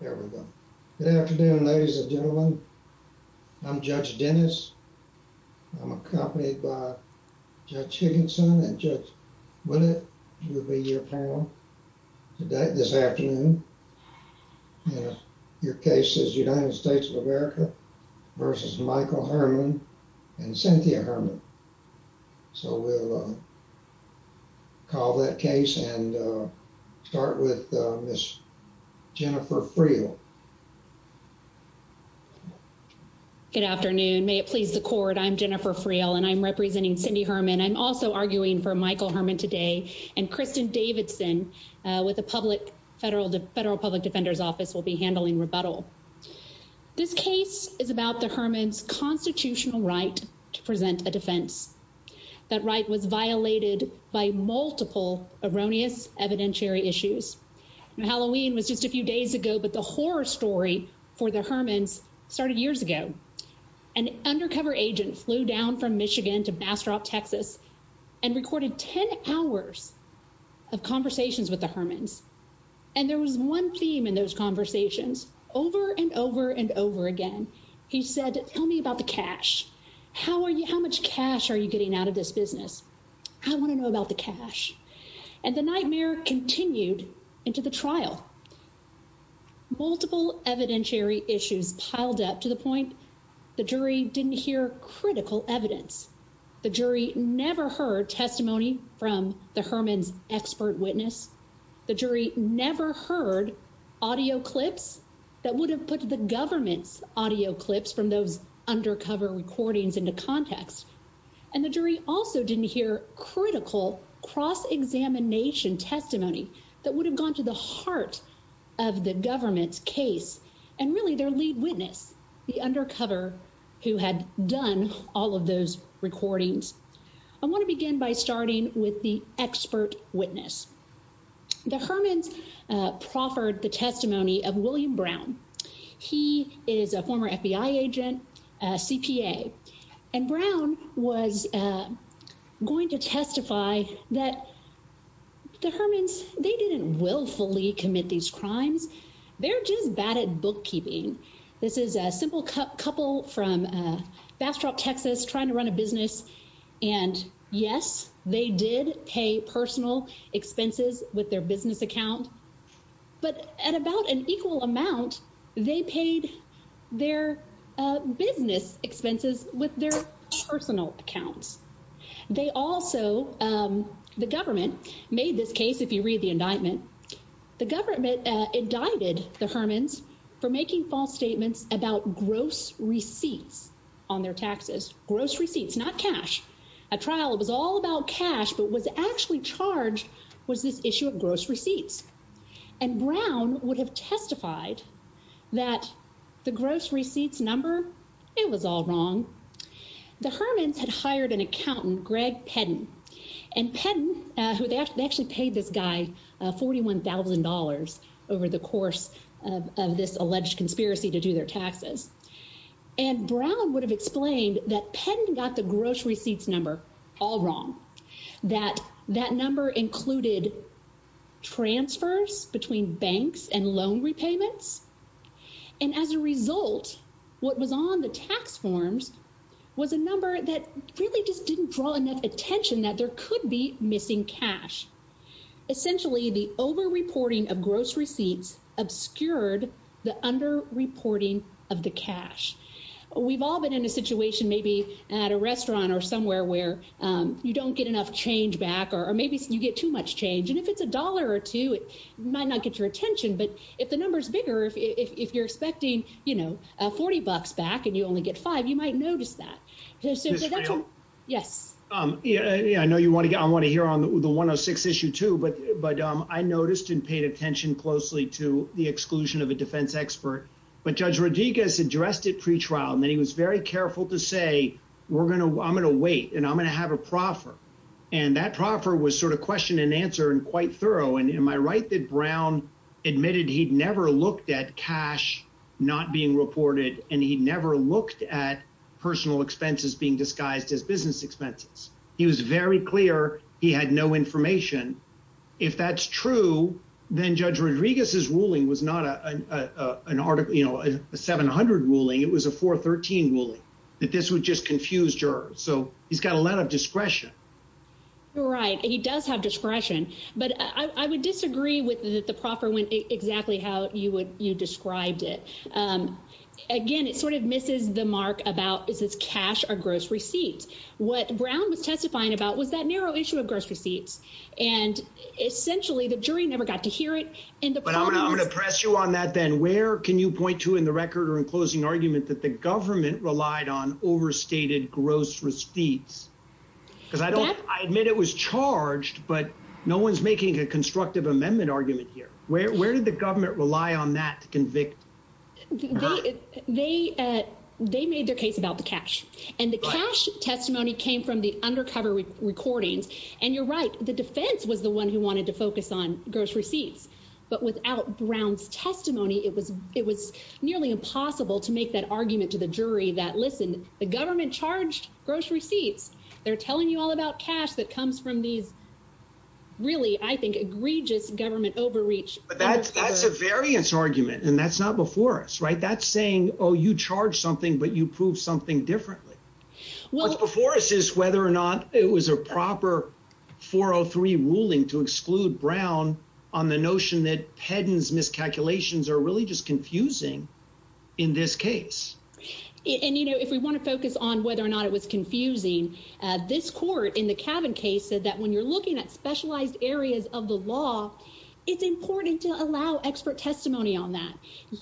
There we go. Good afternoon ladies and gentlemen. I'm Judge Dennis. I'm accompanied by Judge Higginson and Judge Willett will be your panel today this afternoon. Your case is United States of America v. Michael Herman and Cynthia Herman. So we'll call that case and start with Ms. Jennifer Friel. Good afternoon. May it please the court, I'm Jennifer Friel and I'm representing Cindy Herman. I'm also arguing for Michael Herman today and Kristen Davidson with the Federal Public Defender's Office will be handling rebuttal. This case is about the Herman's right to present a defense. That right was violated by multiple erroneous evidentiary issues. Now Halloween was just a few days ago but the horror story for the Herman's started years ago. An undercover agent flew down from Michigan to Bastrop, Texas and recorded 10 hours of conversations with the Herman's and there was one theme in those over and over and over again. He said tell me about the cash. How much cash are you getting out of this business? I want to know about the cash and the nightmare continued into the trial. Multiple evidentiary issues piled up to the point the jury didn't hear critical evidence. The jury never heard testimony from the Herman's expert witness. The jury never heard audio clips that would have put the government's audio clips from those undercover recordings into context and the jury also didn't hear critical cross-examination testimony that would have gone to the heart of the government's case and really their lead witness, the undercover who had done all of those recordings. I want to begin by starting with the expert witness. The Herman's proffered the testimony of William Brown. He is a former FBI agent, CPA and Brown was going to testify that the Herman's they didn't willfully commit these crimes. They're just bad at bookkeeping. This is a simple couple from Bastrop, Texas trying to run a business and yes they did pay personal expenses with their business account but at about an equal amount they paid their business expenses with their personal accounts. They also, the government made this case, if you read the indictment, the government indicted the Herman's for making false receipts on their taxes, gross receipts, not cash. A trial it was all about cash but was actually charged was this issue of gross receipts and Brown would have testified that the gross receipts number, it was all wrong. The Herman's had hired an accountant, Greg Pedden and Pedden who they actually paid this guy $41,000 over the course of this alleged conspiracy to do their taxes and Brown would have explained that Pedden got the gross receipts number all wrong, that that number included transfers between banks and loan repayments and as a result what was on the tax forms was a number that really just didn't draw enough attention that there could be missing cash. Essentially the over-reporting of gross receipts obscured the under-reporting of the cash. We've all been in a situation maybe at a restaurant or somewhere where you don't get enough change back or maybe you get too much change and if it's a dollar or two it might not get your attention but if the number's bigger, if you're expecting you know 40 bucks back and you only get that. I want to hear on the 106 issue too but I noticed and paid attention closely to the exclusion of a defense expert but Judge Rodriguez addressed it pre-trial and he was very careful to say I'm going to wait and I'm going to have a proffer and that proffer was sort of question and answer and quite thorough and am I right that Brown admitted he'd never looked at cash not being reported and he never looked at personal expenses being disguised as business expenses. He was very clear he had no information. If that's true then Judge Rodriguez's ruling was not an article you know a 700 ruling it was a 413 ruling that this would just confuse jurors so he's got a lot of discretion. Right he does have discretion but I would disagree with the proffer when exactly how you would you described it. Again it sort of misses the mark about is this cash or gross receipts. What Brown was testifying about was that narrow issue of gross receipts and essentially the jury never got to hear it. But I'm gonna press you on that then where can you point to in the record or in closing argument that the government relied on overstated gross receipts because I don't I admit it was charged but no one's making a constructive amendment argument here. Where did the government rely on that to convict her? They made their case about the cash and the cash testimony came from the undercover recordings and you're right the defense was the one who wanted to focus on gross receipts but without Brown's testimony it was nearly impossible to make that argument to the jury that listen the government charged gross receipts. They're telling you all about cash that comes from these really I think egregious government overreach. That's a variance argument and that's not before us right that's saying oh you charge something but you prove something differently. What's before us is whether or not it was a proper 403 ruling to exclude Brown on the notion that Pedden's miscalculations are really just confusing in this case. And you know if we want to focus on whether or not it was confusing uh this court in the Cavin case said that when you're looking at specialized areas of the law it's important to allow expert testimony on that.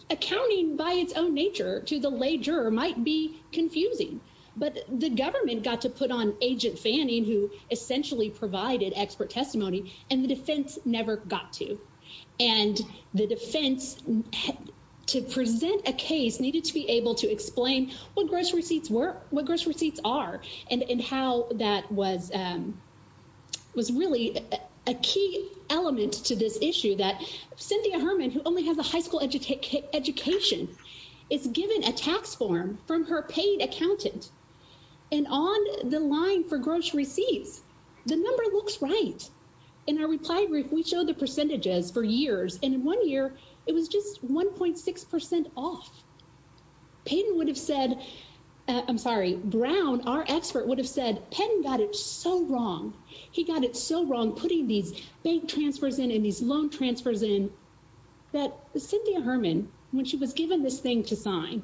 Accounting by its own nature to the lay juror might be confusing but the government got to put on agent Fanning who essentially provided expert testimony and the defense never got to. And the defense to present a case needed to be able to explain what gross receipts were what gross receipts are and and how that was um was really a key element to this issue that Cynthia Herman who only has a high school education is given a tax form from her paid accountant and on the line for gross receipts the number looks right. In our reply brief we showed the percentages for years and in one year it was just 1.6 percent off. Pedden would have said I'm sorry Brown our expert would have said Pedden got it so wrong he got it so wrong putting these bank transfers in and these loan transfers in that Cynthia Herman when she was given this thing to sign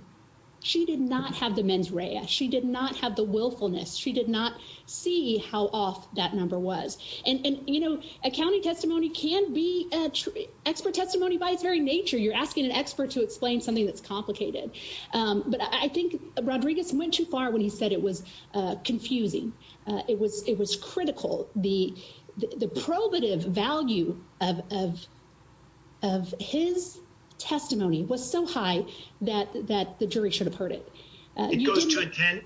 she did not have the mens rea she did not have the willfulness she did not see how off that number was and and you know accounting testimony can be a expert testimony by its very nature you're asking an expert to explain something that's complicated um but I think Rodriguez went too far when he said it was uh confusing uh it was it was critical the the probative value of of of his testimony was so high that that the jury should have heard it. It goes to a 10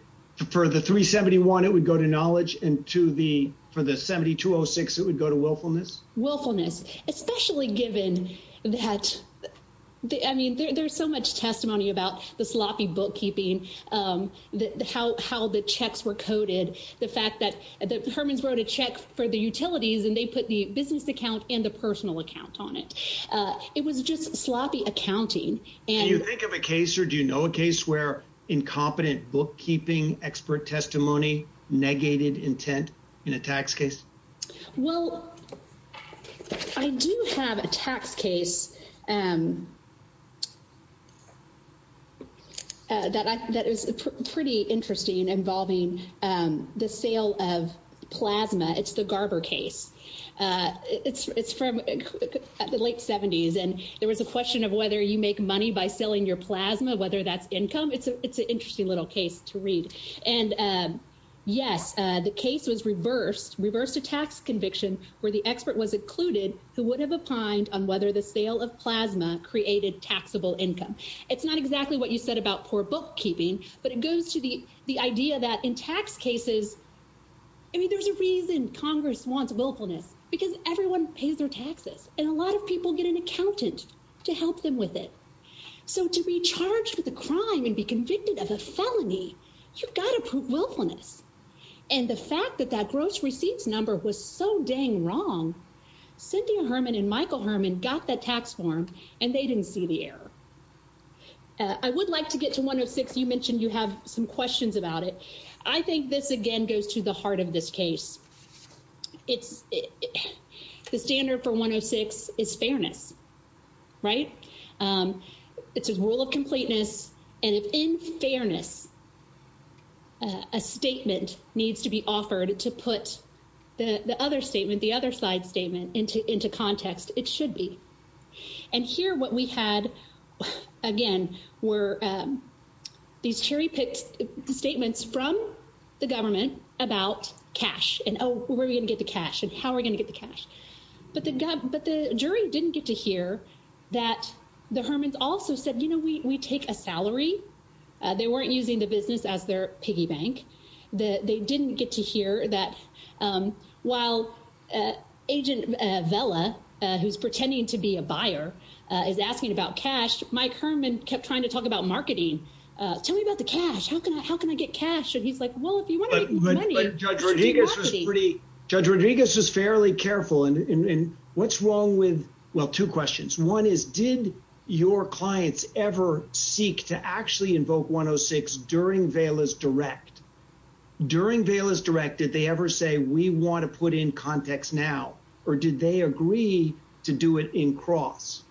for the 371 it would go to knowledge and to the for the 7206 it would go to willfulness. Willfulness especially given that I mean there's so much testimony about the sloppy bookkeeping um the how how the checks were coded the fact that that Herman's wrote a check for the utilities and they put the business account and the personal account on it uh it was just sloppy accounting. Do you think of a case or do you know a case where incompetent bookkeeping expert testimony negated intent in a tax case? Well I do have a tax case um that I that is pretty interesting involving um the sale of plasma it's the Garber case uh it's it's from the late 70s and there was a question of whether you make money by selling your plasma whether that's income it's a it's an interesting little case to read and um yes uh the case was reversed reversed a tax conviction where the expert was included who would have opined on whether the sale of plasma created taxable income. It's not exactly what you said about poor bookkeeping but it goes to the the idea that in tax cases I mean there's a reason Congress wants willfulness because everyone pays their taxes and a lot of people get an accountant to help them with it so to be charged with a crime and be convicted of a felony you've got to prove willfulness and the fact that that gross receipts number was so dang wrong Cynthia Herman and Michael Herman got that tax form and they didn't see the error. I would like to get to 106 you mentioned you have some questions about it I think this again goes to the heart of this case it's the standard for 106 is fairness right um it's a rule of completeness and if in fairness a statement needs to be offered to put the the other statement the other side statement into into context it should be and here what we had again were um these cherry-picked statements from the government about cash and oh we're going to get the cash and how are we going to get the cash but the but the jury didn't get to hear that the Hermans also said you know we we take a salary they weren't using the business as their piggy bank that they didn't get to hear that um while agent Vela who's pretending to be a buyer is asking about cash Mike Herman kept trying to he's like well if you want to make money judge Rodriguez was pretty judge Rodriguez was fairly careful and and what's wrong with well two questions one is did your clients ever seek to actually invoke 106 during Vela's direct during Vela's direct did they ever say we want to put in context now or did they agree to do it in cross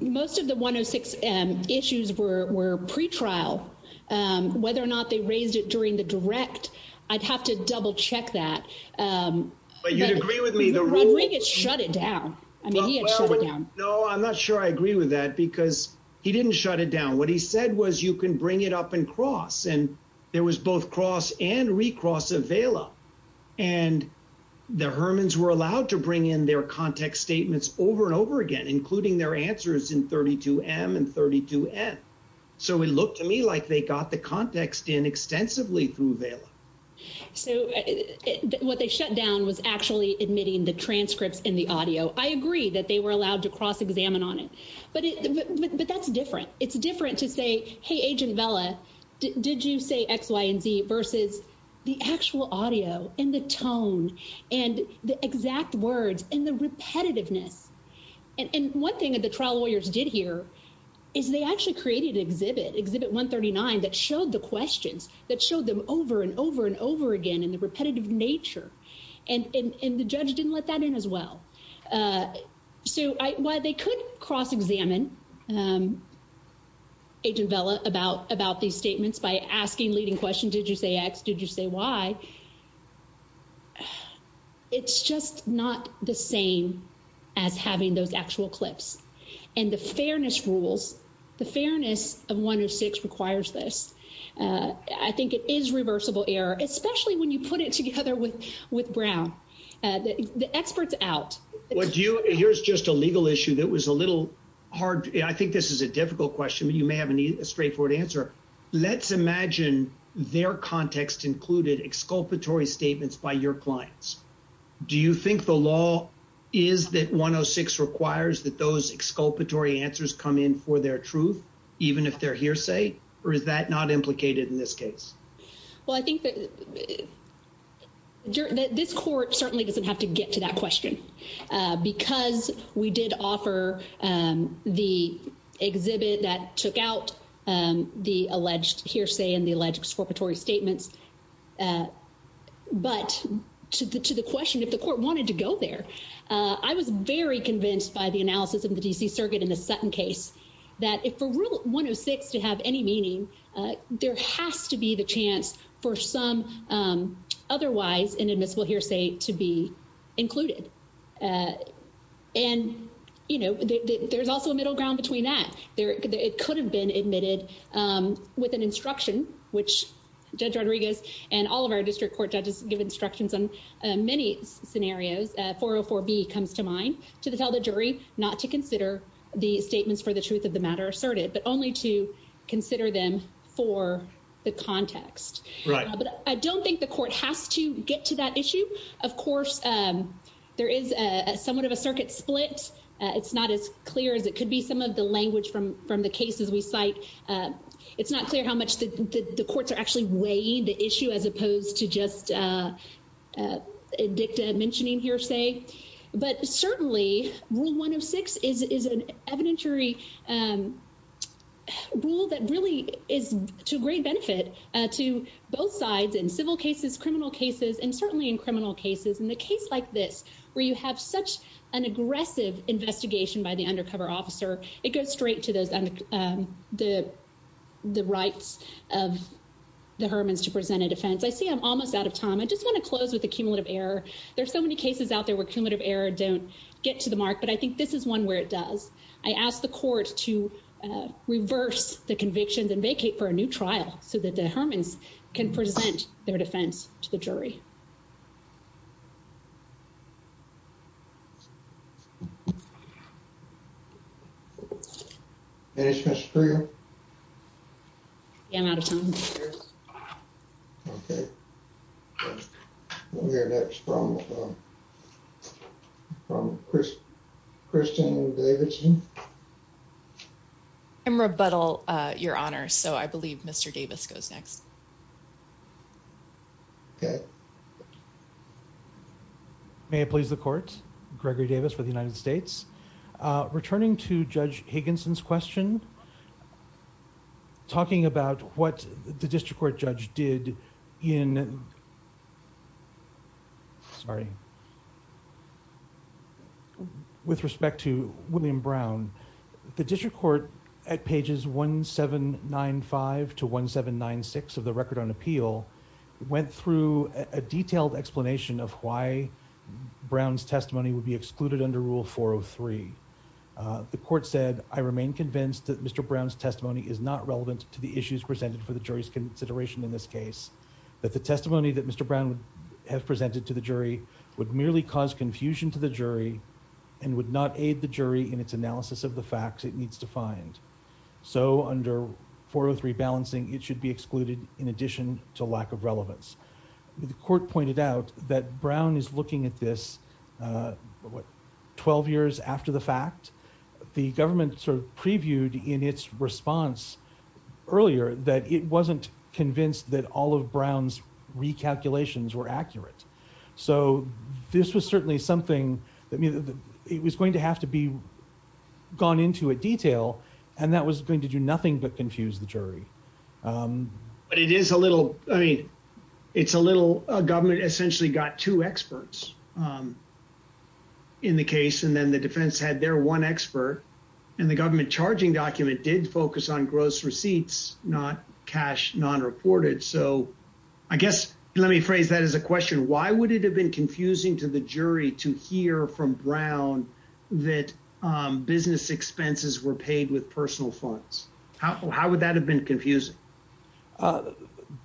most of the 106 um issues were were pre-trial um whether or not they raised it during the direct I'd have to double check that um but you'd agree with me the ring had shut it down I mean he had shut it down no I'm not sure I agree with that because he didn't shut it down what he said was you can bring it up and cross and there was both cross and recross of Vela and the Hermans were allowed to bring in their context statements over and over again including their answers in 32m and 32n so it looked to me like they got the context in extensively through Vela so what they shut down was actually admitting the transcripts in the audio I agree that they were allowed to cross examine on it but it but that's different it's different to say hey agent Vela did you say x y versus the actual audio and the tone and the exact words and the repetitiveness and and one thing that the trial lawyers did here is they actually created an exhibit exhibit 139 that showed the questions that showed them over and over and over again in the repetitive nature and and the judge didn't let that in as well uh so I why they could cross examine um agent Vela about about these statements by asking leading questions did you say x did you say y it's just not the same as having those actual clips and the fairness rules the fairness of 106 requires this uh I think it is reversible error especially when you put it together with with Brown uh the experts out what do you here's just a legal issue that was a little hard I think this is a difficult question but you may have a straightforward answer let's imagine their context included exculpatory statements by your clients do you think the law is that 106 requires that those exculpatory answers come in for their truth even if they're hearsay or is that not implicated in this case well I think that that this court certainly doesn't have to get to that question because we did offer the exhibit that took out the alleged hearsay and the alleged exculpatory statements but to the to the question if the court wanted to go there I was very convinced by the analysis of the D.C. circuit in the Sutton case that if for rule 106 to have any meaning there has to be the for some um otherwise inadmissible hearsay to be included uh and you know there's also a middle ground between that there it could have been admitted um with an instruction which Judge Rodriguez and all of our district court judges give instructions on many scenarios uh 404b comes to mind to tell the jury not to consider the statements for the truth of the matter asserted only to consider them for the context right but I don't think the court has to get to that issue of course um there is a somewhat of a circuit split it's not as clear as it could be some of the language from from the cases we cite uh it's not clear how much the the courts are actually weighing the issue as opposed to just uh uh dicta mentioning hearsay but certainly rule 106 is is an evidentiary um rule that really is to great benefit uh to both sides in civil cases criminal cases and certainly in criminal cases in the case like this where you have such an aggressive investigation by the undercover officer it goes straight to those um the the rights of the Hermans to present a defense I see I'm almost out of time I just want to close with there's so many cases out there where cumulative error don't get to the mark but I think this is one where it does I ask the court to reverse the convictions and vacate for a new trial so that the Hermans can present their defense to the jury I'm out of time okay we're next from from Kristen Davidson I'm rebuttal uh your honor so I believe Mr. Davis goes next okay okay may it please the court Gregory Davis for the United States uh returning to Judge Higginson's question talking about what the district court judge did in sorry with respect to William Brown the district court at pages 1795 to 1796 of the record on appeal went through a detailed explanation of why Brown's testimony would be excluded under rule 403 the court said I remain convinced that Mr. Brown's testimony is not relevant to the issues presented for the jury's consideration in this case that the testimony that Mr. Brown would have presented to the jury would merely cause confusion to the jury and would not aid the jury in its analysis of the lack of relevance the court pointed out that Brown is looking at this uh what 12 years after the fact the government sort of previewed in its response earlier that it wasn't convinced that all of Brown's recalculations were accurate so this was certainly something that I mean it was going to have to be gone into a detail and that was going to do nothing but confuse the jury um but it is a little I mean it's a little government essentially got two experts um in the case and then the defense had their one expert and the government charging document did focus on gross receipts not cash non-reported so I guess let me phrase that as a question why would it have been confusing to the jury to hear from Brown that um business expenses were paid with personal funds how how would that have been confusing uh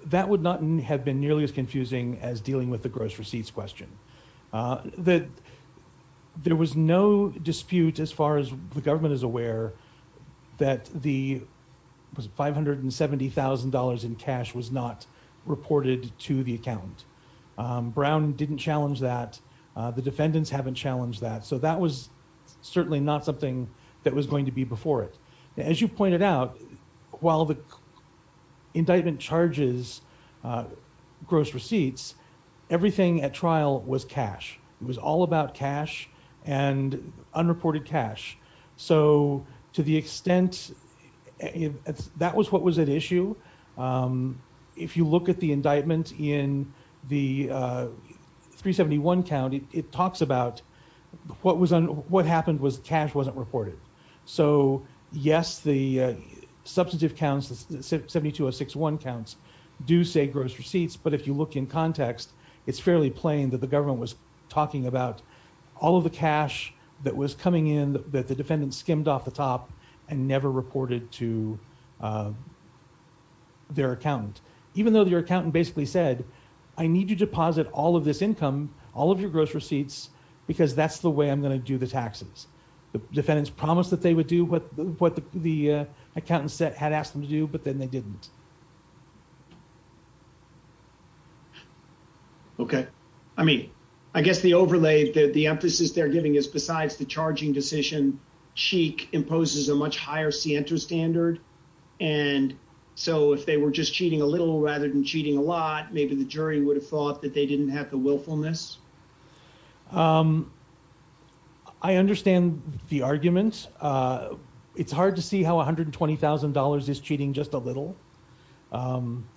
that would not have been nearly as confusing as dealing with the gross receipts question uh that there was no dispute as far as the government is aware that the was 570 000 in cash was not reported to the account um Brown didn't challenge that the defendants haven't challenged that so that was certainly not something that was going to be before it now as you pointed out while the indictment charges uh gross receipts everything at trial was cash it was all about cash and unreported cash so to the extent if that was what was at issue um if you look at the indictment in the uh 371 county it talks about what was on what happened was cash wasn't reported so yes the substantive counts 72061 counts do say gross receipts but if you look in context it's fairly plain that the government was talking about all of the cash that was coming in that the defendant skimmed off the top and never reported to uh their accountant even though their accountant basically said I need to deposit all of this the defendants promised that they would do what what the uh accountants that had asked them to do but then they didn't okay I mean I guess the overlay that the emphasis they're giving is besides the charging decision sheik imposes a much higher scienter standard and so if they were just cheating a little rather than cheating a lot maybe the jury would have thought that they understand the argument uh it's hard to see how 120 000 is cheating just a little um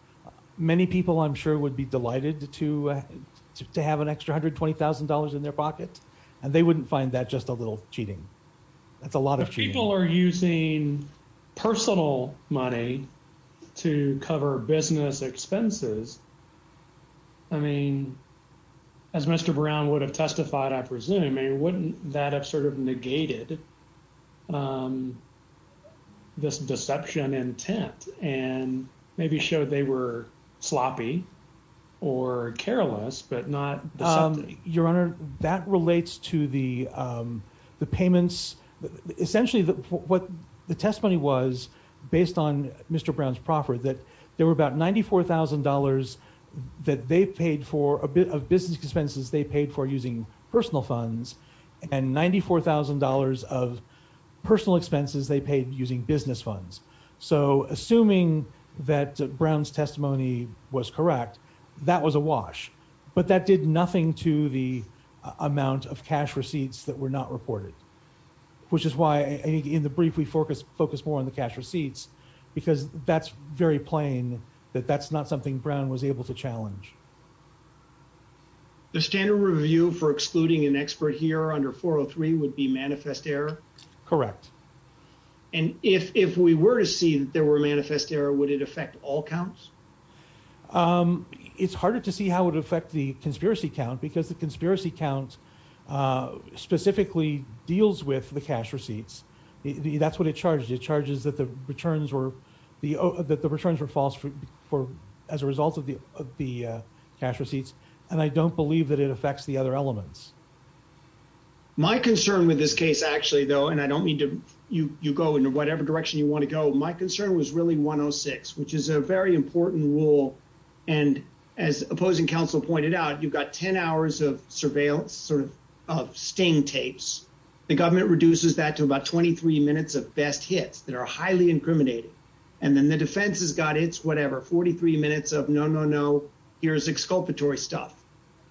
many people I'm sure would be delighted to to have an extra 120 000 in their pocket and they wouldn't find that just a little cheating that's a lot of people are using personal money to cover business expenses I mean as Mr. Brown would have testified I presume wouldn't that have sort of negated um this deception intent and maybe showed they were sloppy or careless but not um your honor that relates to the um the payments essentially what the testimony was based on Mr. Brown's proffer that there were about 94 000 that they and 94 000 of personal expenses they paid using business funds so assuming that Brown's testimony was correct that was a wash but that did nothing to the amount of cash receipts that were not reported which is why I think in the brief we focus focus more on the cash receipts because that's very plain that that's not something Brown was able to challenge the standard review for excluding an expert here under 403 would be manifest error correct and if if we were to see that there were manifest error would it affect all counts um it's harder to see how it would affect the conspiracy count because the conspiracy count uh specifically deals with the cash receipts that's what it charges it charges that the cash receipts and I don't believe that it affects the other elements my concern with this case actually though and I don't mean to you you go in whatever direction you want to go my concern was really 106 which is a very important rule and as opposing counsel pointed out you've got 10 hours of surveillance sort of of sting tapes the government reduces that to about 23 minutes of best hits that are highly incriminating and then the defense has got it's whatever 43 minutes of no no no here's exculpatory stuff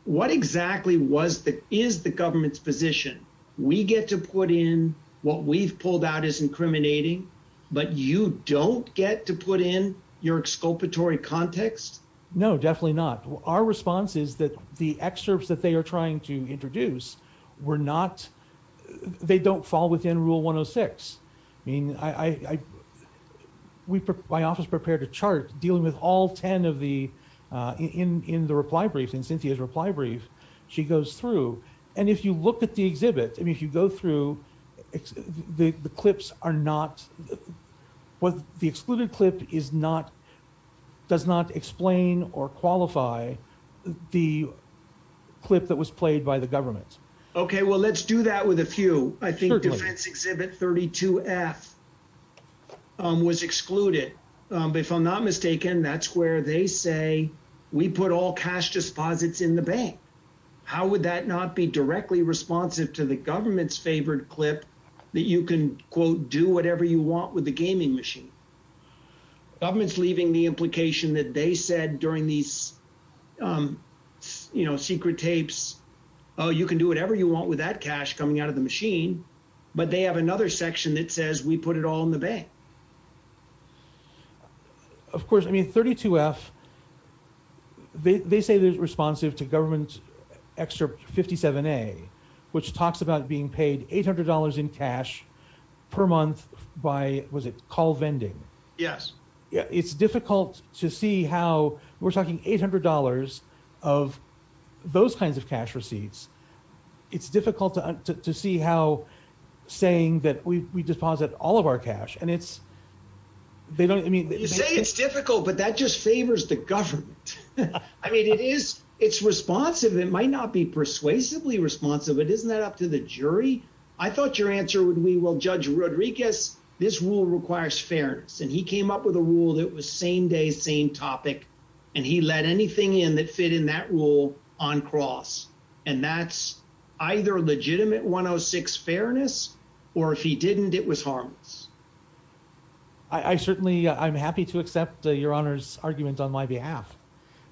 what exactly was that is the government's position we get to put in what we've pulled out is incriminating but you don't get to put in your exculpatory context no definitely not our response is that the excerpts that they are trying to introduce were not they don't fall within rule 106 I mean I we my office prepared a chart dealing with all 10 of the uh in in the reply brief in Cynthia's reply brief she goes through and if you look at the exhibit I mean if you go through the the clips are not what the excluded clip is not does not explain or qualify the clip that was played by the government okay well let's do that with a few I think it's exhibit 32f was excluded but if I'm not mistaken that's where they say we put all cash disposits in the bank how would that not be directly responsive to the government's favored clip that you can quote do whatever you want with the gaming machine government's leaving the implication that they said during these um you know secret tapes oh you can do whatever you with that cash coming out of the machine but they have another section that says we put it all in the bank of course I mean 32f they say they're responsive to government extra 57a which talks about being paid 800 in cash per month by was it call vending yes yeah it's difficult to see how we're talking 800 of those kinds of cash receipts it's difficult to to see how saying that we we deposit all of our cash and it's they don't I mean you say it's difficult but that just favors the government I mean it is it's responsive it might not be persuasively responsive but isn't that up to the jury I thought your answer would we will judge Rodriguez this requires fairness and he came up with a rule that was same day same topic and he let anything in that fit in that rule on cross and that's either legitimate 106 fairness or if he didn't it was harmless I certainly I'm happy to accept your honor's argument on my behalf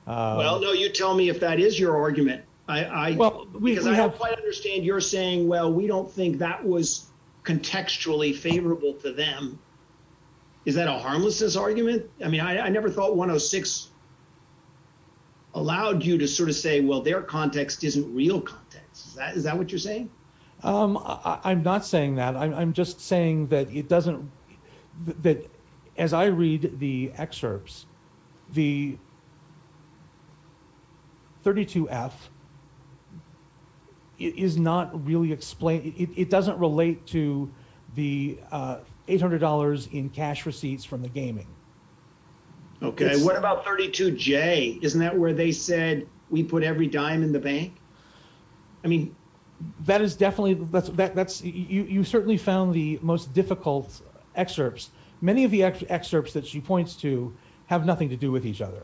well no you tell me if that is your argument I I well we have quite understand you're saying well we don't think that was contextually favorable to them is that a harmlessness argument I mean I I never thought 106 allowed you to sort of say well their context isn't real context is that is that what you're saying um I'm not saying that I'm just saying that it doesn't that as I read the excerpts the 32f is not really explained it doesn't relate to the uh $800 in cash receipts from the gaming okay what about 32j isn't that where they said we put every dime in the bank I mean that is definitely that's that that's you you certainly found the most difficult excerpts many of the excerpts that she points to have nothing to do with each other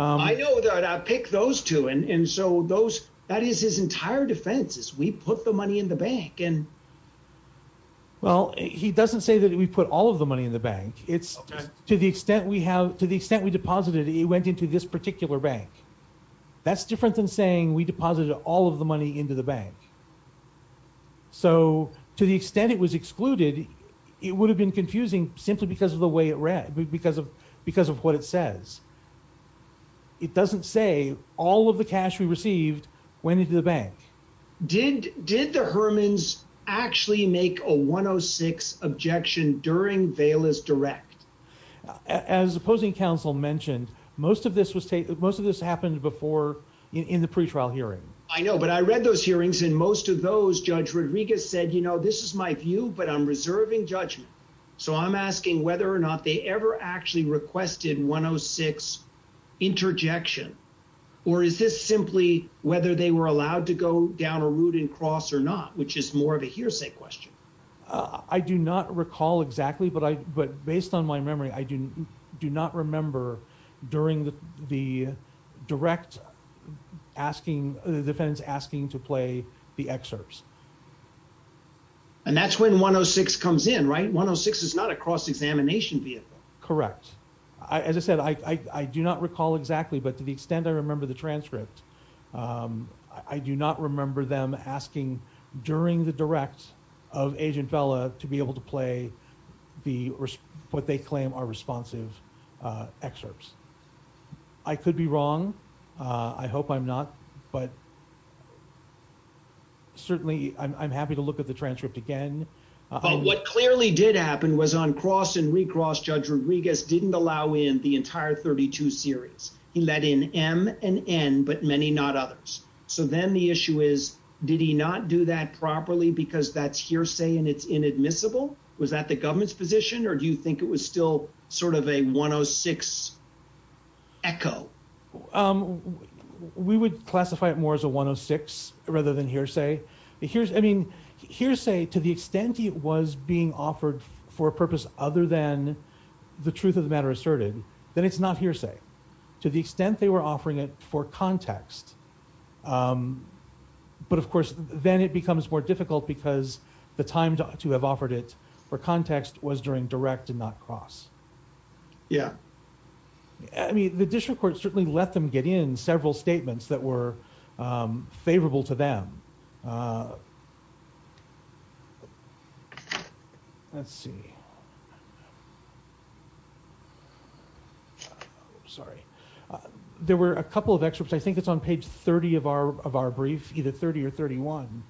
I know that I pick those two and so those that is his entire defense is we put the money in the bank and well he doesn't say that we put all of the money in the bank it's to the extent we have to the extent we deposited it went into this particular bank that's different than saying we deposited all of the money into the bank so to the extent it was excluded it would have been confusing simply because of the way it read because of because of what it says it doesn't say all of the cash we received went into the bank did did the hermans actually make a 106 objection during veil is direct as opposing counsel mentioned most of this was taken most of this happened before in the pre-trial hearing I know but I read those hearings and most of those judge Rodriguez said you know this is my view but I'm reserving judgment so I'm asking whether or not they ever actually requested 106 interjection or is this simply whether they were allowed to go down a route and cross or not which is more of a hearsay question I do not recall exactly but I but based on my memory I didn't do not remember during the the direct asking the defense asking to play the excerpts and that's when 106 comes in right 106 is not a cross-examination vehicle correct I as I said I I do not recall exactly but to the extent I remember the transcript I do not remember them asking during the direct of agent fella to be able to play the what they claim are responsive excerpts I could be wrong I hope I'm not but certainly I'm happy to look at the transcript again but what clearly did happen was on cross and recross judge Rodriguez didn't allow in the entire 32 series he let in m and n but many not others so then the issue is did he not do that properly because that's hearsay and it's inadmissible was that the government's position or do you think it was still sort of a 106 echo um we would classify it more as a 106 rather than hearsay here's I mean hearsay to the extent it was being offered for a purpose other than the truth of the matter asserted then it's not hearsay to the extent they were offering it for context um but of course then it becomes more difficult because the time to have offered it for context was during direct and not cross yeah I mean the district court certainly let them get in several statements that were favorable to them let's see sorry there were a couple of excerpts I think it's on page 30 of our of our brief either 30 or 31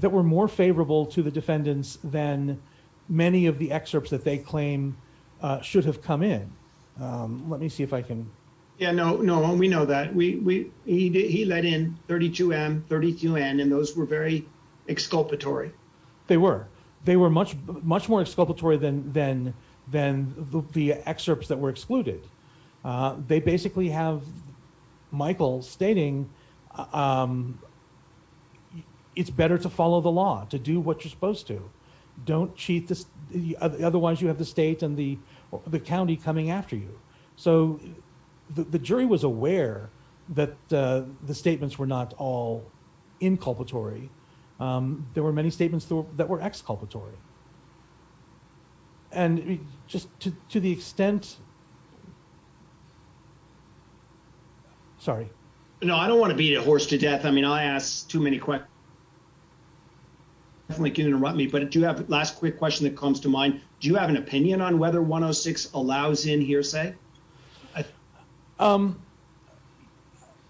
that were more favorable to the defendants than many of the excerpts that they claim should have come in um let me see if I can yeah no no we know that we we he let in 32 m 32 n and those were very exculpatory they were they were much much more exculpatory than than than the better to follow the law to do what you're supposed to don't cheat this otherwise you have the state and the the county coming after you so the jury was aware that the statements were not all inculpatory um there were many statements that were exculpatory and just to the extent sorry no I don't want to beat a horse to death I mean I asked too many questions I definitely can't interrupt me but do you have last quick question that comes to mind do you have an opinion on whether 106 allows in hearsay I um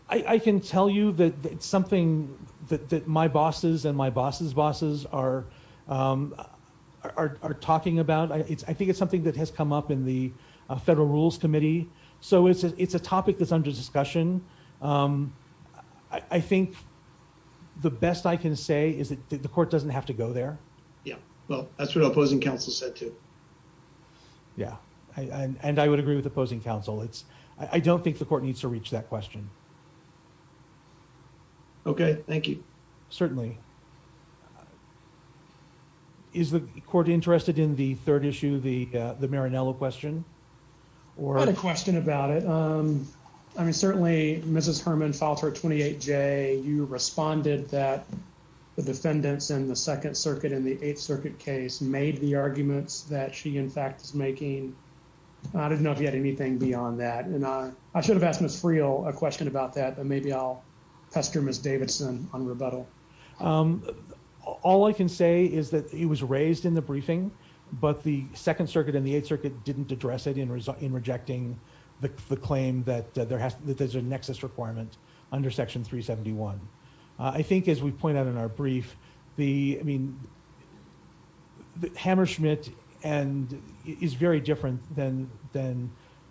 I I can tell you that it's something that that my bosses and my bosses bosses are um are are talking about I it's I think it's something that has come up in the federal rules committee so it's it's a topic that's under um I think the best I can say is that the court doesn't have to go there yeah well that's what opposing counsel said too yeah I and I would agree with opposing counsel it's I don't think the court needs to reach that question okay thank you certainly is the court interested in the third mrs herman filed her 28 j you responded that the defendants in the second circuit in the eighth circuit case made the arguments that she in fact is making I didn't know if you had anything beyond that and I I should have asked miss friel a question about that but maybe I'll pester miss davidson on rebuttal um all I can say is that it was raised in the briefing but the second circuit and the eighth circuit didn't address it in result in rejecting the the claim that there has that there's a nexus requirement under section 371 I think as we point out in our brief the I mean the hammerschmidt and is very different than than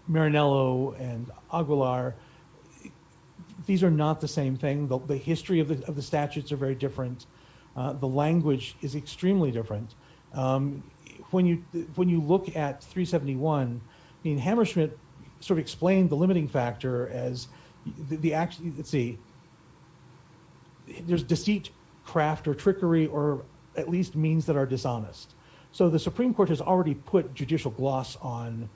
marinello and aguilar these are not the same thing the history of the of the statutes are very different the language is extremely different um when you when you look at 371 I mean hammerschmidt sort of explained the limiting factor as the actually let's see there's deceit craft or trickery or at least means that are dishonest so the supreme court has already put judicial gloss on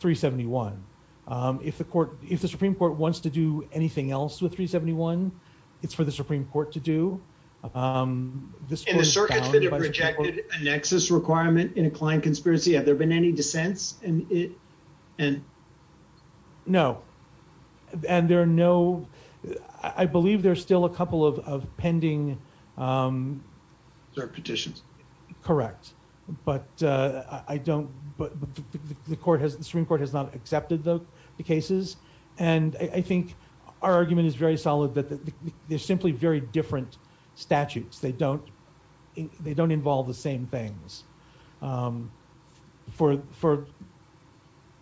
371 um if the court if the supreme court wants to do anything else with 371 it's for the supreme court to do um this circuit's been rejected a nexus requirement in a client conspiracy have you no and there are no I believe there's still a couple of of pending um their petitions correct but uh I don't but the court has the supreme court has not accepted the cases and I think our argument is very solid that there's simply very different statutes they don't they don't involve the same things um for for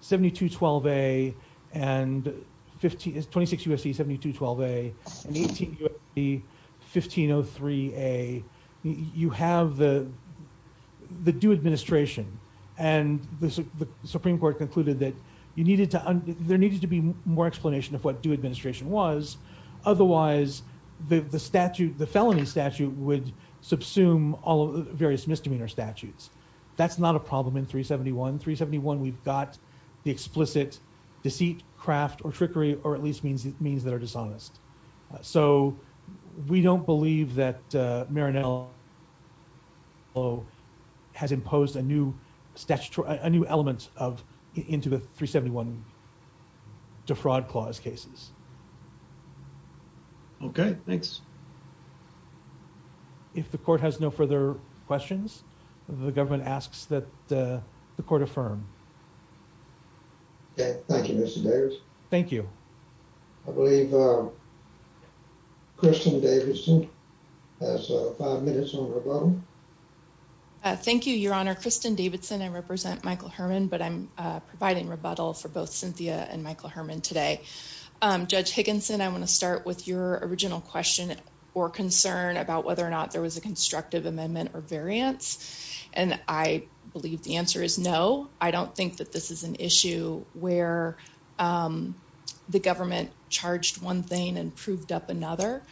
72 12a and 15 is 26 usc 72 12a and 18 usb 1503a you have the the due administration and the supreme court concluded that you needed to there needed to be more explanation of what due administration was otherwise the the statute the all various misdemeanor statutes that's not a problem in 371 371 we've got the explicit deceit craft or trickery or at least means it means that are dishonest so we don't believe that uh marinello has imposed a new statutory a new element of into the 371 defraud clause cases okay thanks if the court has no further questions the government asks that the court affirm okay thank you mr davis thank you i believe uh christian davidson has five minutes on rebuttal thank you your honor kristin davidson i represent michael herman but i'm providing rebuttal for both cynthia and michael herman today um judge higginson i want to start with your original question or concern about whether or not there was a constructive amendment or variance and i believe the answer is no i don't think that this is an issue where the government charged one thing and proved up another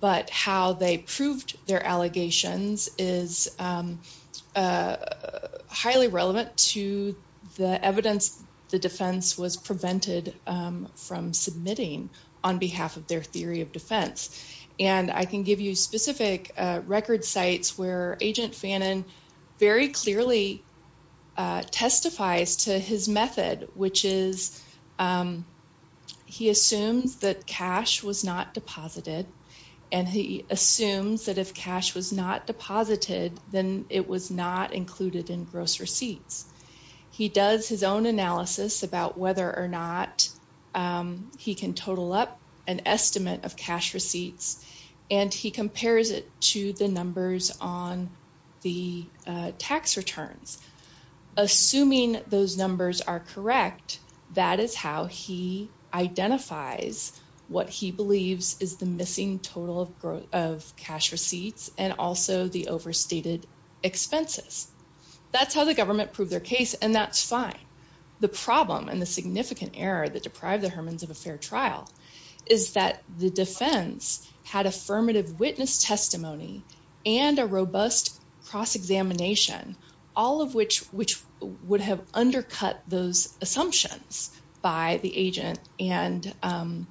but how they proved their allegations is uh highly relevant to the evidence the defense was prevented um from submitting on behalf of their theory of defense and i can give you specific uh record sites where agent fannon very clearly uh testifies to his method which is um he assumes that cash was not deposited and he assumes that if cash was not deposited then it was not included in gross receipts he does his own analysis about whether or not um he can total up an estimate of cash receipts and he compares it to the numbers on the tax returns assuming those numbers are correct that is how he identifies what he believes is the missing total of cash receipts and also the overstated expenses that's how the government proved their case and that's fine the problem and the significant error that deprived the hermans of a fair trial is that the defense had affirmative witness testimony and a robust cross-examination all of which which would have undercut those assumptions by the agent and um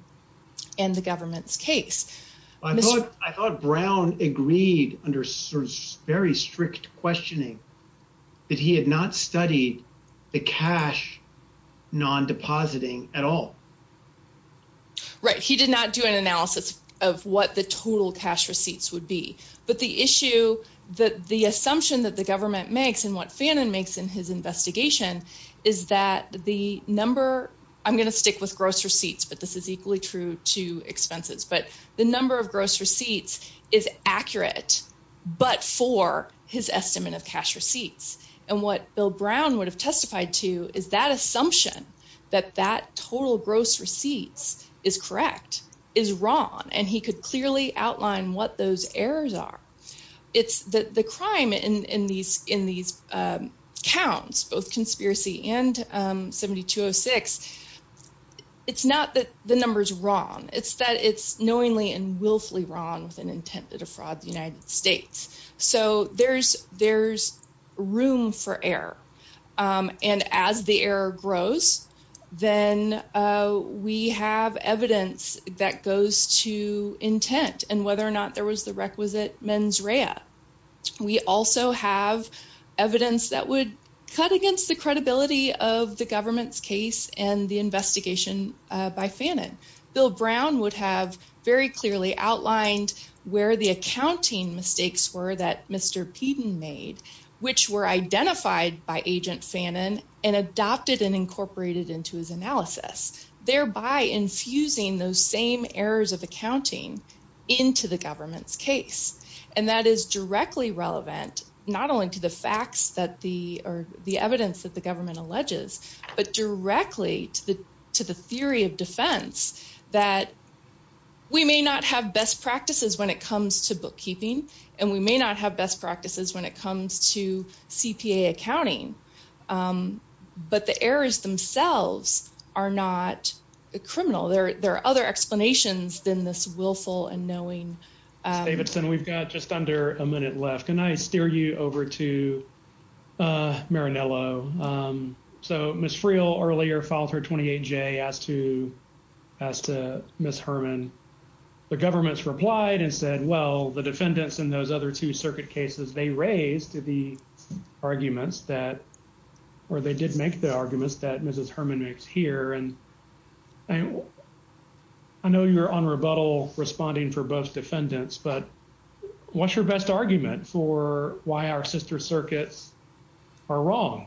and the government's case i thought i thought brown agreed under very strict questioning that he had not studied the cash non-depositing at all right he did not do an analysis of what the total cash receipts would be but the issue that the number i'm going to stick with gross receipts but this is equally true to expenses but the number of gross receipts is accurate but for his estimate of cash receipts and what bill brown would have testified to is that assumption that that total gross receipts is correct is wrong and he could clearly outline what those errors are it's the the crime in in these in these um counts both and um 7206 it's not that the number's wrong it's that it's knowingly and willfully wrong with an intent to defraud the united states so there's there's room for error um and as the error grows then uh we have evidence that goes to intent and whether or not there was the requisite mens we also have evidence that would cut against the credibility of the government's case and the investigation by fannin bill brown would have very clearly outlined where the accounting mistakes were that mr peeden made which were identified by agent fannin and adopted and incorporated into his analysis thereby infusing those same errors of accounting into the government's relevant not only to the facts that the or the evidence that the government alleges but directly to the to the theory of defense that we may not have best practices when it comes to bookkeeping and we may not have best practices when it comes to cpa accounting um but the errors themselves are not a criminal there there are other explanations than this willful and knowing davidson we've got just under a minute left can i steer you over to uh marinello um so miss friel earlier filed her 28j as to as to miss herman the government's replied and said well the defendants in those other two circuit cases they raised the arguments that or they did make the arguments that mrs herman makes here and i know you're on rebuttal responding for both defendants but what's your best argument for why our sister circuits are wrong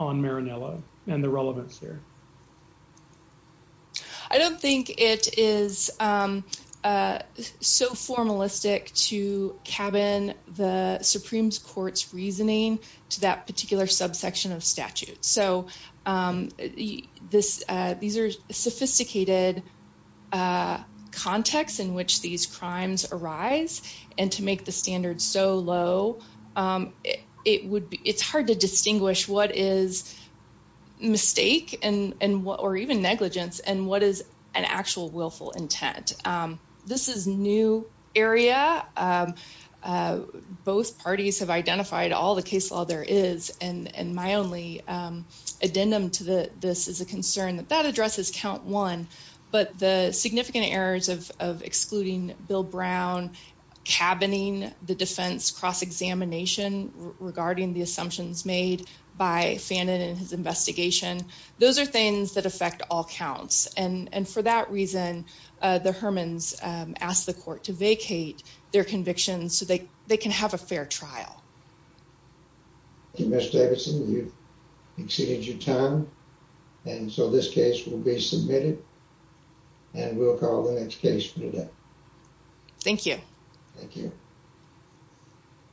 on marinello and the relevance here i don't think it is um uh so formalistic to cabin the supreme court's reasoning to that and to make the standards so low um it would be it's hard to distinguish what is mistake and and what or even negligence and what is an actual willful intent um this is new area both parties have identified all the case law there is and and my only um addendum to the this is a concern that that addresses count one but the significant errors of of excluding bill brown cabining the defense cross-examination regarding the assumptions made by fannin and his investigation those are things that affect all counts and and for that reason uh the hermans um asked the court to vacate their convictions so they they can have a fair trial thank you miss davidson you've exceeded your time and so this case will be submitted and we'll call the next case for today thank you thank you